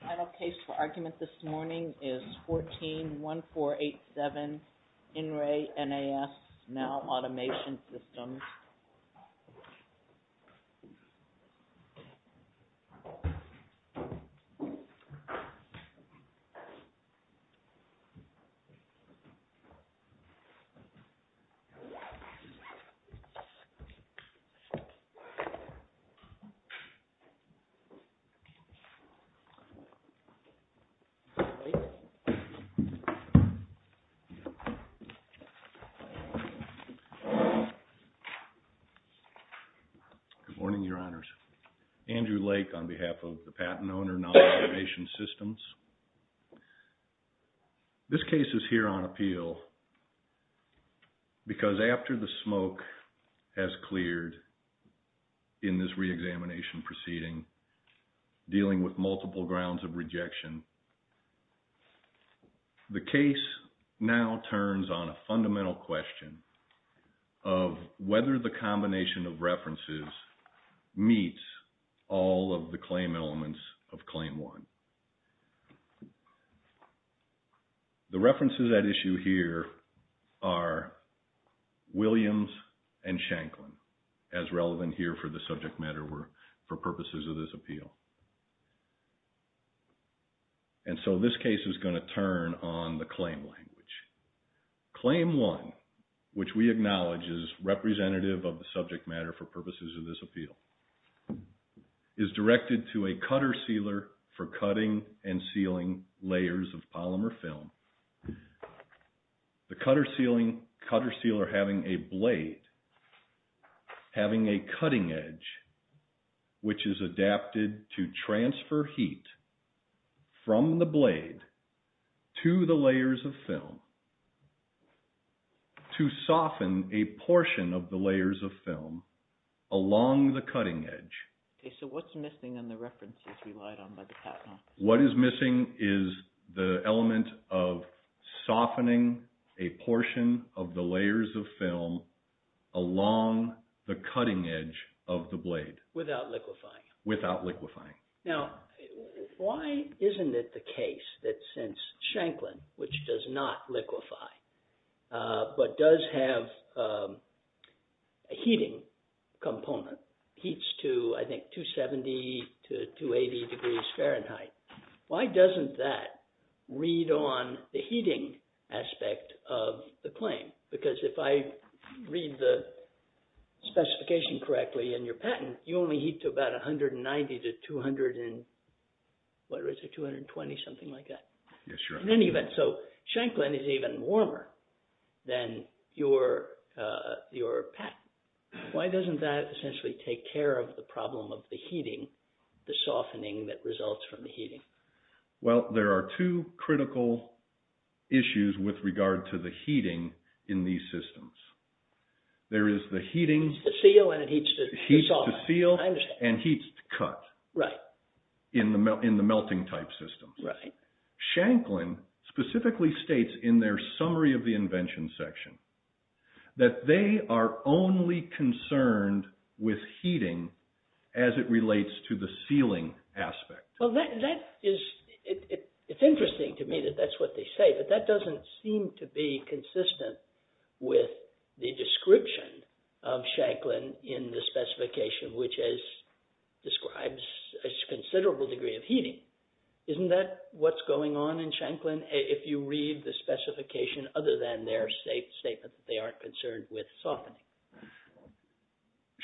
Final case for argument this morning is 14-1. 14-8-7 In Re NAS Nalle Automation Systems Good morning, Your Honors. Andrew Lake on behalf of the Patent Owner NAS Automation Systems. This case is here on appeal because after the smoke has cleared in this re-examination proceeding, dealing with multiple grounds of rejection, the case now turns on a fundamental question of whether the combination of references meets all of the claim elements of claim one. The references at issue here are Williams and Shanklin as relevant here for the subject matter for purposes of this appeal. And so this case is going to turn on the claim language. Claim one, which we acknowledge is representative of the subject matter for purposes of this appeal, is directed to a cutter sealer for cutting and sealing layers of polymer film. The cutter sealer having a blade, having a cutting edge, which is adapted to transfer heat from the blade to the layers of film to soften a portion of the layers of film along the cutting edge. Okay. So what's missing on the references relied on by the Patent Officer? What is missing is the element of softening a portion of the layers of film along the cutting edge of the blade. Without liquefying. Without liquefying. Now, why isn't it the case that since Shanklin, which does not liquefy, but does have a heating component, heats to, I think, 270 to 280 degrees Fahrenheit, why doesn't that read on the heating aspect of the claim? Because if I read the specification correctly in your patent, you only heat to about 190 to 200 and, what is it, 220, something like that. Yes, sir. In any event, so Shanklin is even warmer than your patent. Why doesn't that essentially take care of the problem of the heating, the softening that results from the heating? Well, there are two critical issues with regard to the heating in these systems. There is the heating... It heats to seal and it heats to soften. I understand. It heats to seal and heats to cut in the melting type systems. Right. Shanklin specifically states in their summary of the invention section that they are only concerned with heating as it relates to the sealing aspect. Well, that is... It's interesting to me that that's what they say, but that doesn't seem to be consistent with the description of Shanklin in the specification, which describes a considerable degree of heating. Isn't that what's going on in Shanklin if you read the specification other than their state statement that they aren't concerned with softening?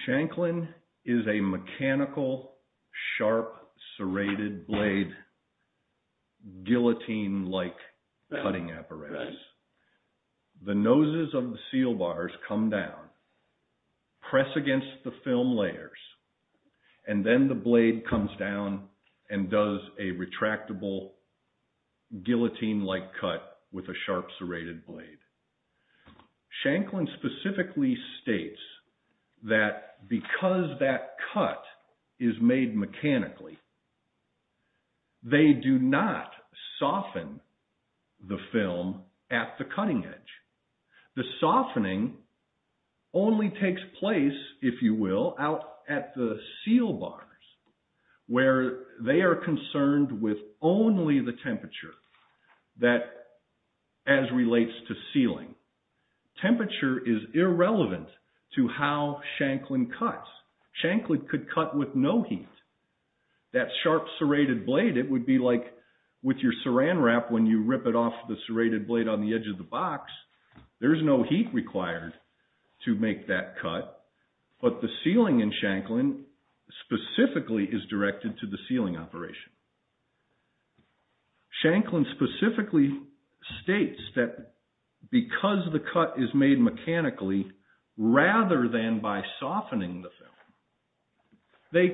Shanklin is a mechanical, sharp, serrated blade, guillotine-like cutting apparatus. The noses of the seal bars come down, press against the film layers, and then the blade comes down and does a retractable, guillotine-like cut with a sharp, serrated blade. Shanklin specifically states that because that cut is made mechanically, they do not soften the film at the cutting edge. The softening only takes place, if you will, out at the seal bars, where they are concerned with only the temperature that as relates to sealing. Temperature is irrelevant to how Shanklin cuts. Shanklin could cut with no heat. That sharp, serrated blade, it would be like with your saran wrap when you rip it off the serrated blade on the edge of the box. There's no heat required to make that cut, but the sealing in Shanklin specifically is directed to the sealing operation. Shanklin specifically states that because the cut is made mechanically, rather than by softening the film, they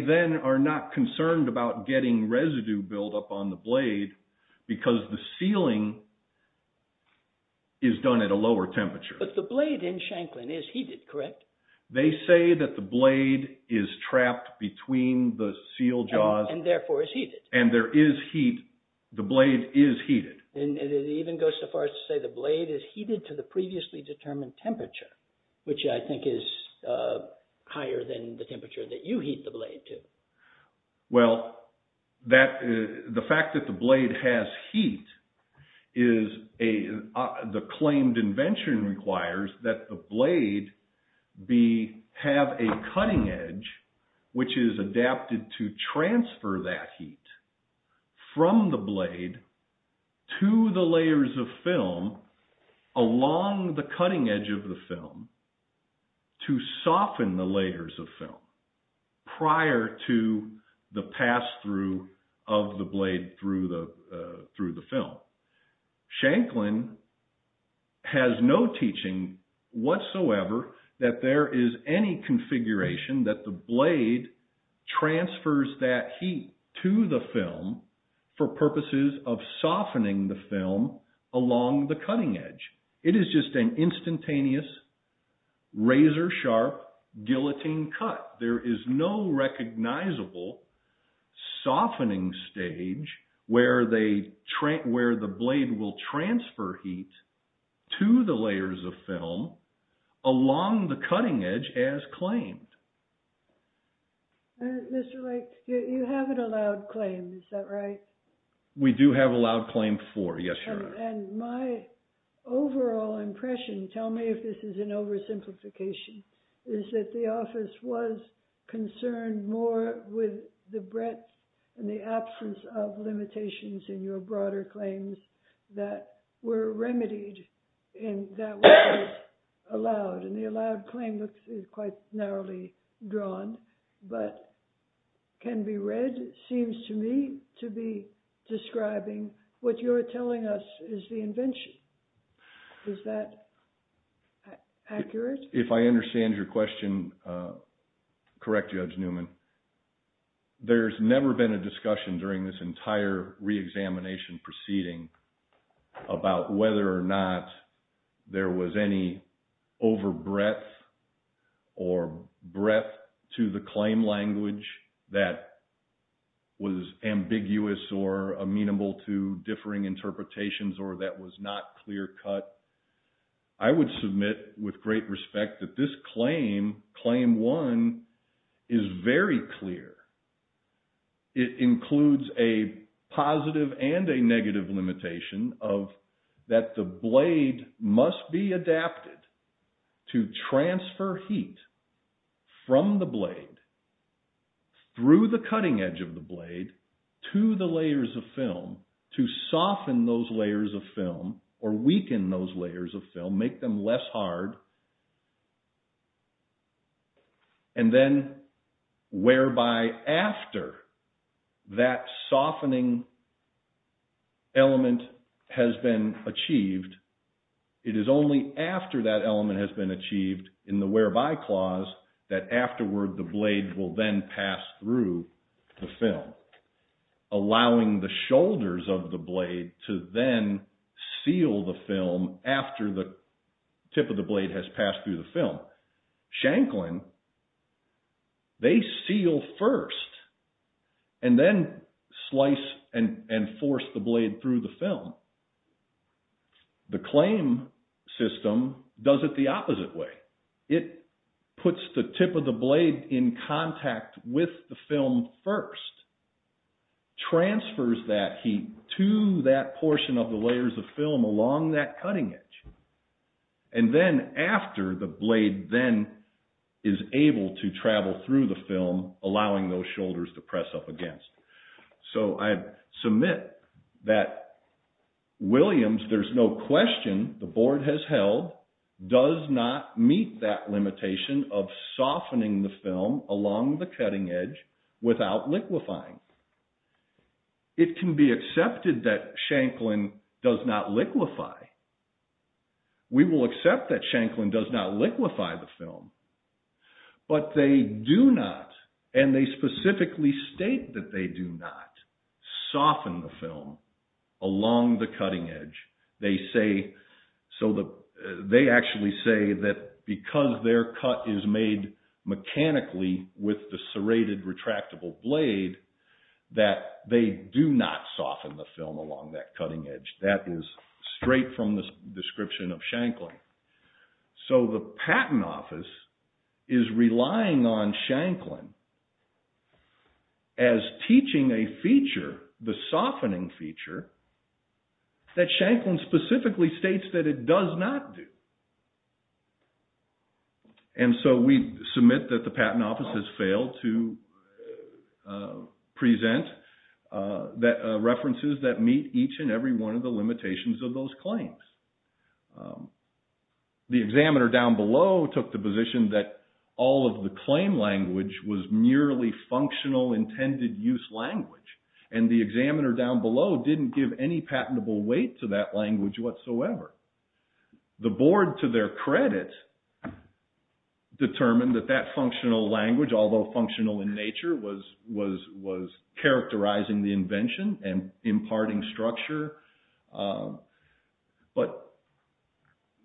then are not concerned about getting residue buildup on the blade because the sealing is done at a lower temperature. But the blade in Shanklin is heated, correct? They say that the blade is trapped between the seal jaws. And therefore is heated. And there is heat. The blade is heated. And it even goes so far as to say the blade is heated to the previously determined temperature, which I think is higher than the temperature that you heat the blade to. Well, the fact that the blade has heat, the claimed invention requires that the blade have a cutting edge which is adapted to transfer that heat from the blade to the layers of to the pass-through of the blade through the film. Shanklin has no teaching whatsoever that there is any configuration that the blade transfers that heat to the film for purposes of softening the film along the cutting edge. It is just an instantaneous, razor-sharp, guillotine cut. There is no recognizable softening stage where the blade will transfer heat to the layers of film along the cutting edge as claimed. Mr. Lake, you haven't allowed claim, is that right? We do have allowed claim for, yes, Your Honor. And my overall impression, tell me if this is an oversimplification, is that the office was concerned more with the breadth and the absence of limitations in your broader claims that were remedied in that was allowed. And the allowed claim is quite narrowly drawn, but can be read, seems to me, to be describing what you're telling us is the invention. Is that accurate? If I understand your question correct, Judge Newman, there's never been a discussion during this entire re-examination proceeding about whether or not there was any over-breadth or breadth to the claim language that was ambiguous or amenable to differing interpretations or that was not clear-cut. I would submit with great respect that this claim, Claim 1, is very clear. It includes a positive and a negative limitation of that the blade must be adapted to transfer heat from the blade through the cutting edge of the blade to the layers of film to soften those layers of film or weaken those layers of film, make them less hard, and then whereby after that softening element has been achieved, it is only after that element has been achieved in the whereby clause that afterward the blade will then pass through the film, allowing the shoulders of the blade to then seal the film after the tip of the blade has passed through the film. Shanklin, they seal first and then slice and force the blade through the film. The claim system does it the opposite way. It puts the tip of the blade in contact with the film first, transfers that heat to that and then is able to travel through the film, allowing those shoulders to press up against. So I submit that Williams, there's no question the board has held, does not meet that limitation of softening the film along the cutting edge without liquefying. It can be accepted that Shanklin does not liquefy. We will accept that Shanklin does not liquefy the film, but they do not, and they specifically state that they do not soften the film along the cutting edge. They say, so they actually say that because their cut is made mechanically with the serrated retractable blade, that they do not soften the film along that cutting edge. That is straight from the description of Shanklin. So the Patent Office is relying on Shanklin as teaching a feature, the softening feature, that Shanklin specifically states that it does not do. And so we submit that the Patent Office has failed to present references that meet each and every one of the limitations of those claims. The examiner down below took the position that all of the claim language was merely functional intended use language, and the examiner down below didn't give any patentable weight to that language whatsoever. The board, to their credit, determined that that functional language, although functional in nature, was characterizing the invention and imparting structure. But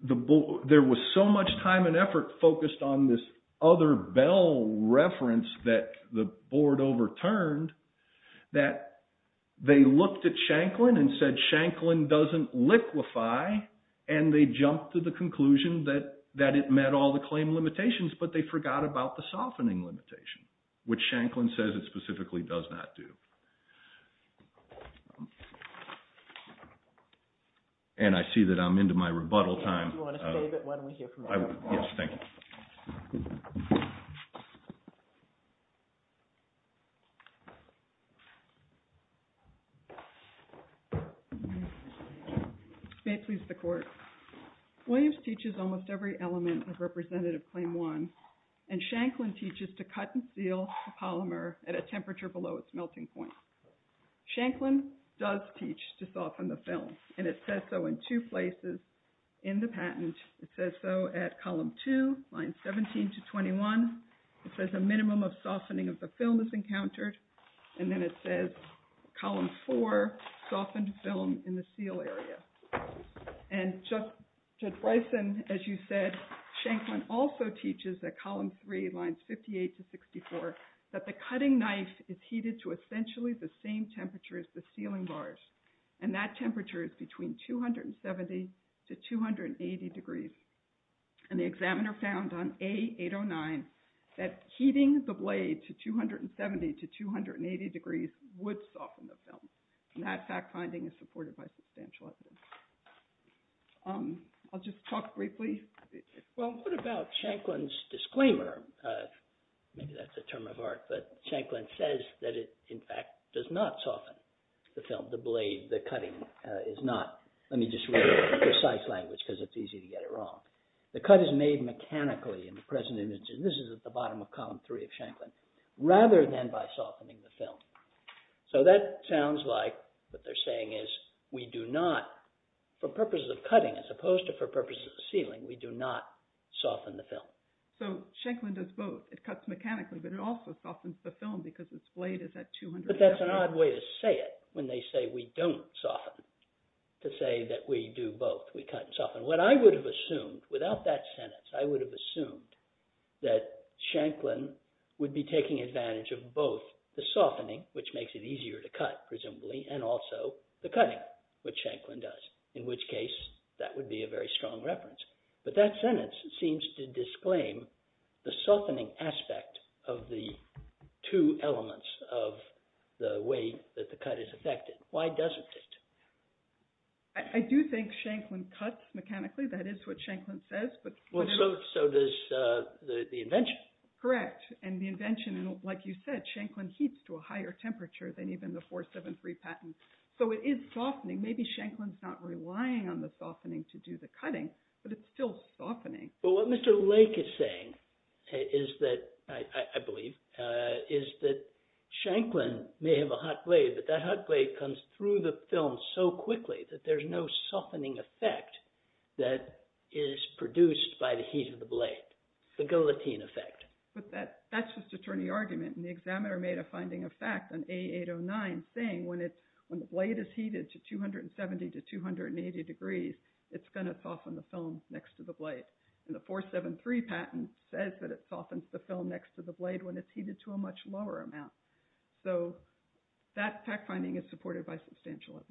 there was so much time and effort focused on this other Bell reference that the board overturned that they looked at Shanklin and said Shanklin doesn't liquefy, and they jumped to the conclusion that it met all the claim limitations, but they forgot about the softening limitation, which Shanklin says it specifically does not do. And I see that I'm into my rebuttal time. Do you want to stay a bit while we hear from the court? Yes, thank you. May it please the court. Williams teaches almost every element of Representative Claim 1, and Shanklin teaches to cut and seal the polymer at a temperature below its melting point. Shanklin does teach to soften the film, and it says so in two places in the patent. It says so at column 2, lines 17 to 21. It says a minimum of softening of the film is encountered, and then it says column 4, softened film in the seal area. And Judge Bryson, as you said, Shanklin also teaches that column 3, lines 58 to 64, that the cutting knife is heated to essentially the same temperature as the sealing bars, and that temperature is between 270 to 280 degrees. And the examiner found on A809 that heating the blade to 270 to 280 degrees would soften the film, and that fact finding is supported by substantial evidence. I'll just talk briefly. Well, what about Shanklin's disclaimer? Maybe that's a term of art, but Shanklin says that it, in fact, does not soften the film. The blade, the cutting is not. Let me just read it in precise language because it's easy to get it wrong. The cut is made mechanically in the present image, and this is at the bottom of column 3 of Shanklin, rather than by softening the film. So that sounds like what they're saying is we do not, for purposes of cutting as opposed to for purposes of sealing, we do not soften the film. So Shanklin does both. It cuts mechanically, but it also softens the film because its blade is at 270. But that's an odd way to say it, when they say we don't soften, to say that we do both, we cut and soften. What I would have assumed, without that sentence, I would have assumed that Shanklin would be taking advantage of both the softening, which makes it easier to cut, presumably, and also the cutting, which Shanklin does, in which case that would be a very strong reference. But that sentence seems to disclaim the softening aspect of the two elements of the way that the cut is affected. Why doesn't it? I do think Shanklin cuts mechanically. That is what Shanklin says. So does the invention. Correct. And the invention, like you said, Shanklin heats to a higher temperature than even the 473 patent. So it is softening. Maybe Shanklin's not relying on the softening to do the cutting, but it's still softening. But what Mr. Lake is saying is that, I believe, is that Shanklin may have a hot blade, but that hot blade comes through the film so quickly that there's no softening effect that is produced by the heat of the blade, the guillotine effect. But that's just attorney argument. And the examiner made a finding of fact on A809 saying when the blade is heated to 270 to 280 degrees, it's going to soften the film next to the blade. And the 473 patent says that it softens the film next to the blade when it's heated to a much lower amount. So that fact finding is supported by substantial evidence.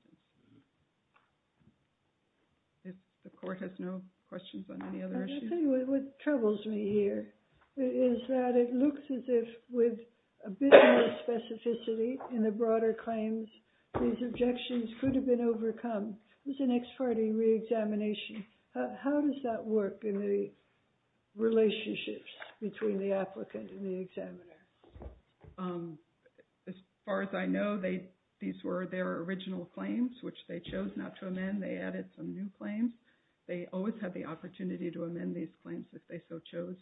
The court has no questions on any other issues? What troubles me here is that it looks as if with a bit more specificity in the broader claims, these objections could have been overcome. It was an ex parte reexamination. How does that work in the relationships between the applicant and the examiner? As far as I know, these were their original claims, which they chose not to amend. They added some new claims. They always had the opportunity to amend these claims if they so chose.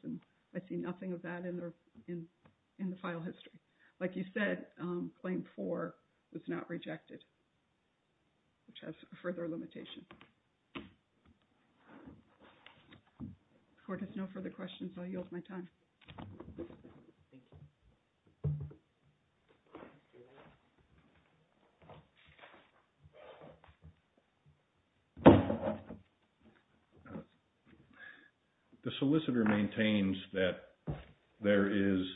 I see nothing of that in the file history. Like you said, claim four was not rejected, which has further limitations. The court has no further questions. I'll yield my time. The solicitor maintains that there is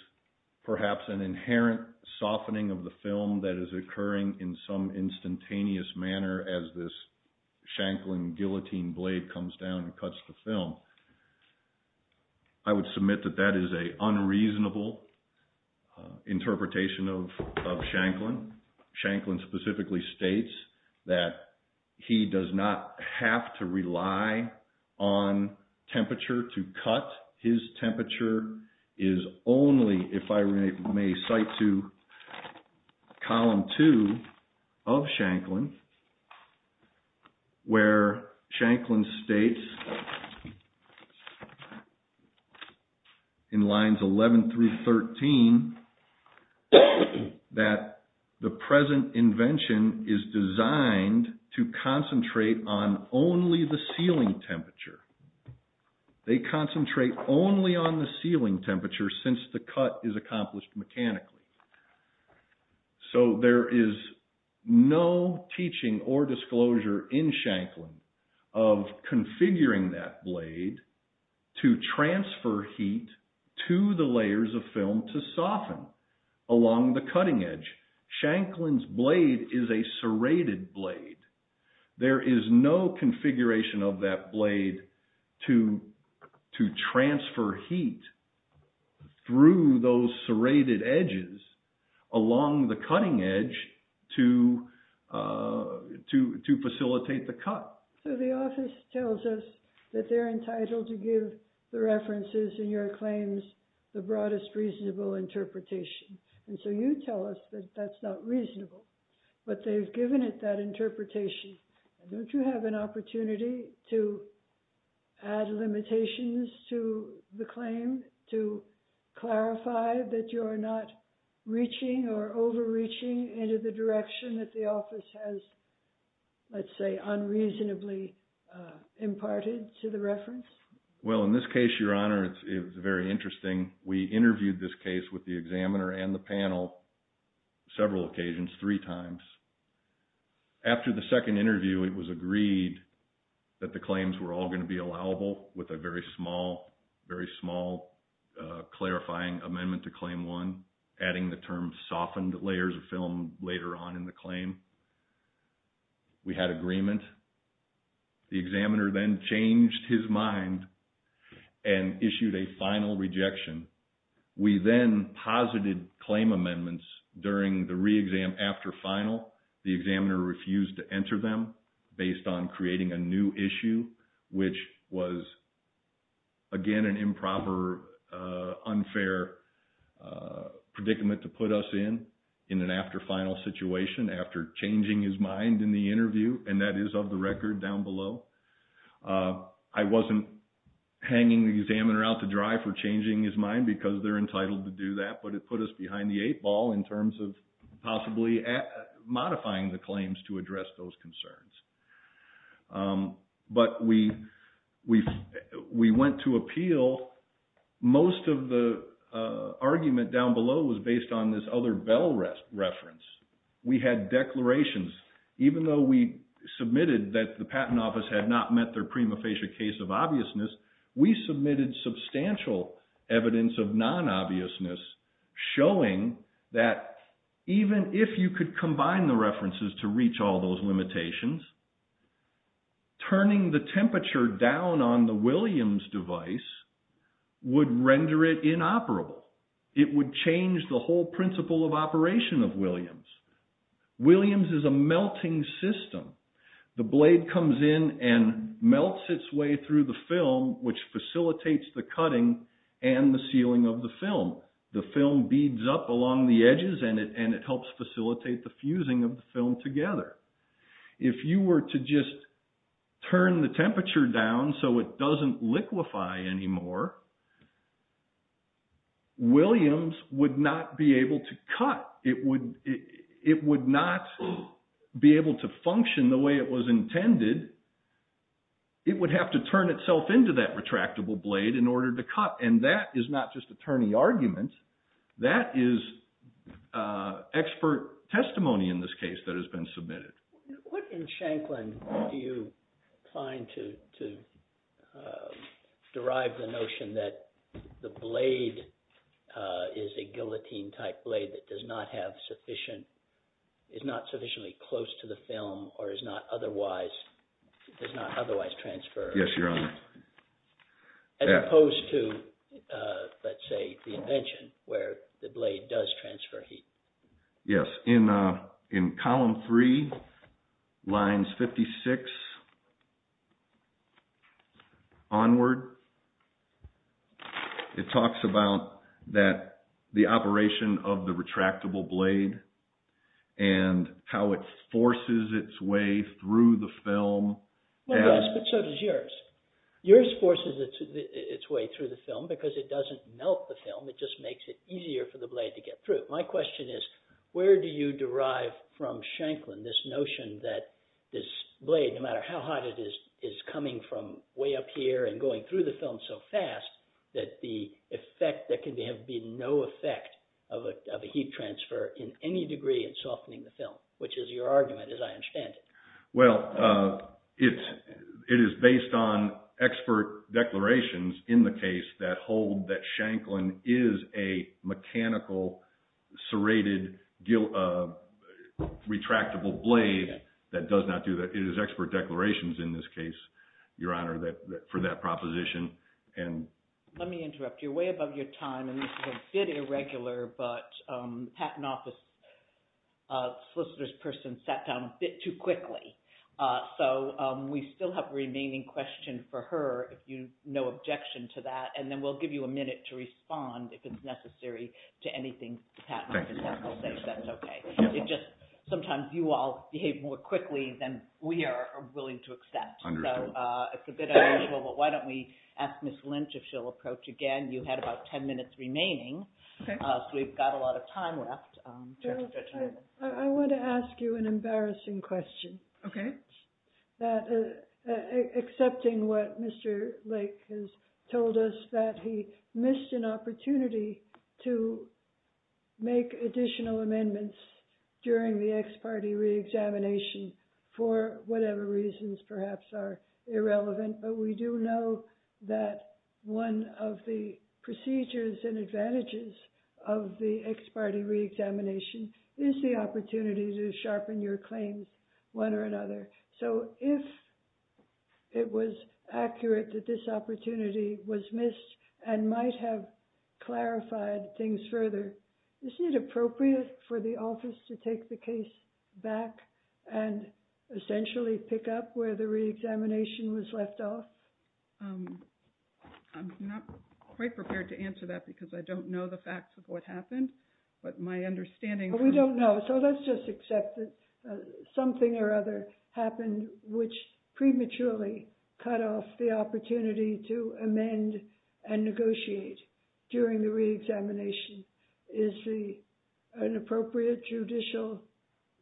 perhaps an inherent softening of the film that is occurring in some instantaneous manner as this Shanklin guillotine blade comes down and cuts the film. I would submit that that is an unreasonable interpretation of Shanklin. Shanklin specifically states that he does not have to rely on temperature to cut. His temperature is only, if I may cite to column two of Shanklin, where Shanklin states in lines 11 through 13 that the present invention is designed to concentrate on only the sealing temperature. They concentrate only on the sealing temperature since the cut is accomplished mechanically. There is no teaching or disclosure in Shanklin of configuring that blade to transfer heat to the layers of film to soften along the cutting edge. Shanklin's blade is a serrated blade. There is no configuration of that blade to transfer heat through those serrated edges along the cutting edge to facilitate the cut. So the office tells us that they're entitled to give the references in your claims the broadest reasonable interpretation. And so you tell us that that's not reasonable, but they've given it that interpretation. Don't you have an opportunity to add limitations to the claim, to clarify that you're not reaching or overreaching into the direction that the office has, let's say, unreasonably imparted to the reference? Well, in this case, Your Honor, it's very interesting. We interviewed this case with the examiner and the panel several occasions, three times. After the second interview, it was agreed that the claims were all going to be allowable with a very small, very small clarifying amendment to Claim 1, adding the term softened layers of film later on in the claim. We had agreement. The examiner then changed his mind and issued a final rejection. We then posited claim amendments during the re-exam after final. The examiner refused to enter them based on creating a new issue, which was, again, an improper, unfair predicament to put us in, in an after-final situation after changing his mind in the interview, and that is of the record down below. I wasn't hanging the examiner out to dry for changing his mind because they're entitled to do that, but it put us behind the eight ball in terms of possibly modifying the claims to address those concerns. But we went to appeal. Most of the argument down below was based on this other Bell reference. We had declarations. Even though we submitted that the Patent Office had not met their prima facie case of obviousness, we submitted substantial evidence of non-obviousness showing that even if you could combine the references to reach all those limitations, turning the temperature down on the Williams device would render it inoperable. It would change the whole principle of operation of Williams. Williams is a melting system. The blade comes in and melts its way through the film, which facilitates the cutting and the sealing of the film. The film beads up along the edges and it helps facilitate the fusing of the film together. If you were to just turn the temperature down so it doesn't liquefy anymore, Williams would not be able to cut. It would not be able to function the way it was intended. It would have to turn itself into that retractable blade in order to cut. And that is not just attorney argument. That is expert testimony in this case that has been submitted. What in Shanklin do you find to derive the notion that the blade is a guillotine type blade that does not have sufficient, is not sufficiently close to the film or is not otherwise transferred? Yes, Your Honor. As opposed to, let's say, the invention where the blade does transfer heat. Yes. In column three, lines 56 onward, it talks about the operation of the retractable blade and how it forces its way through the film. It does, but so does yours. Yours forces its way through the film because it doesn't melt the film. It just makes it easier for the blade to get through. My question is, where do you derive from Shanklin this notion that this blade, no matter how hot it is, is coming from way up here and going through the film so fast that there can have been no effect of a heat transfer in any degree in softening the film, which is your argument as I understand it. Well, it is based on expert declarations in the case that hold that Shanklin is a mechanical serrated retractable blade that does not do that. It is expert declarations in this case, Your Honor, for that proposition. Let me interrupt you. You're way above your time and this is a bit irregular, but patent office solicitor's person sat down a bit too quickly, so we still have a remaining question for her if you have no objection to that, and then we'll give you a minute to respond if it's necessary to anything the patent office has to say, if that's okay. Sometimes you all behave more quickly than we are willing to accept. It's a bit unusual, but why don't we ask Ms. Lynch if she'll approach again. You had about 10 minutes remaining, so we've got a lot of time left. I want to ask you an embarrassing question. Okay. Accepting what Mr. Lake has told us, that he missed an opportunity to make additional amendments during the ex parte reexamination for whatever reasons perhaps are irrelevant, but we do know that one of the procedures and advantages of the ex parte reexamination is the opportunity to sharpen your claims one or another. So if it was accurate that this opportunity was missed and might have clarified things further, isn't it appropriate for the office to take the case back and essentially pick up where the reexamination was left off? I'm not quite prepared to answer that because I don't know the facts of what happened, but my understanding... We don't know, so let's just accept that something or other happened, which prematurely cut off the opportunity to amend and negotiate during the reexamination. Is an appropriate judicial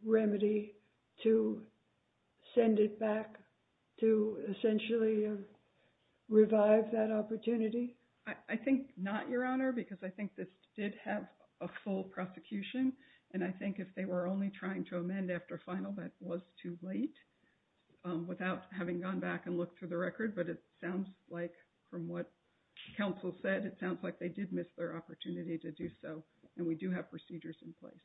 remedy to send it back to essentially revive that opportunity? I think not, Your Honor, because I think this did have a full prosecution, and I think if they were only trying to amend after final, that was too late, without having gone back and looked through the record. But it sounds like, from what counsel said, it sounds like they did miss their opportunity to do so, and we do have procedures in place.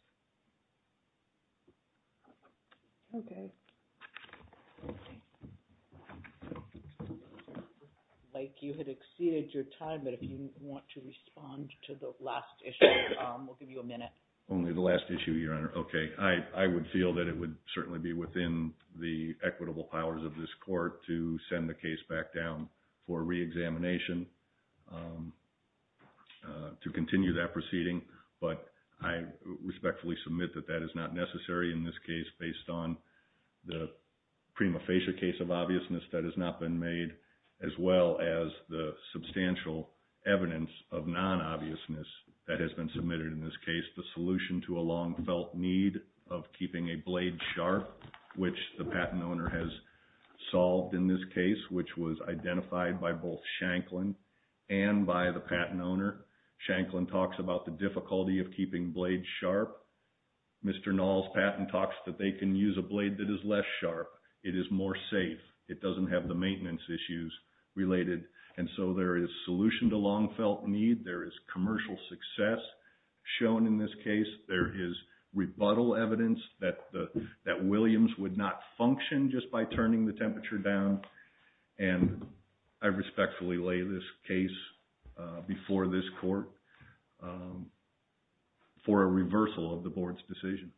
Mike, you had exceeded your time, but if you want to respond to the last issue, we'll give you a minute. Only the last issue, Your Honor. Okay, I would feel that it would certainly be within the equitable powers of this court to send the case back down for reexamination to continue that proceeding, but I respectfully submit that that is not necessary in this case based on the prima facie case of obviousness that has not been made as well as the substantial evidence of non-obviousness that has been submitted in this case. The solution to a long-felt need of keeping a blade sharp, which the patent owner has solved in this case, which was identified by both Shanklin and by the patent owner. Shanklin talks about the difficulty of keeping blades sharp. Mr. Knoll's patent talks that they can use a blade that is less sharp. It is more safe. It doesn't have the maintenance issues related, and so there is solution to long-felt need. There is commercial success shown in this case. There is rebuttal evidence that Williams would not function just by turning the temperature down, and I respectfully lay this case before this court for a reversal of the board's decision.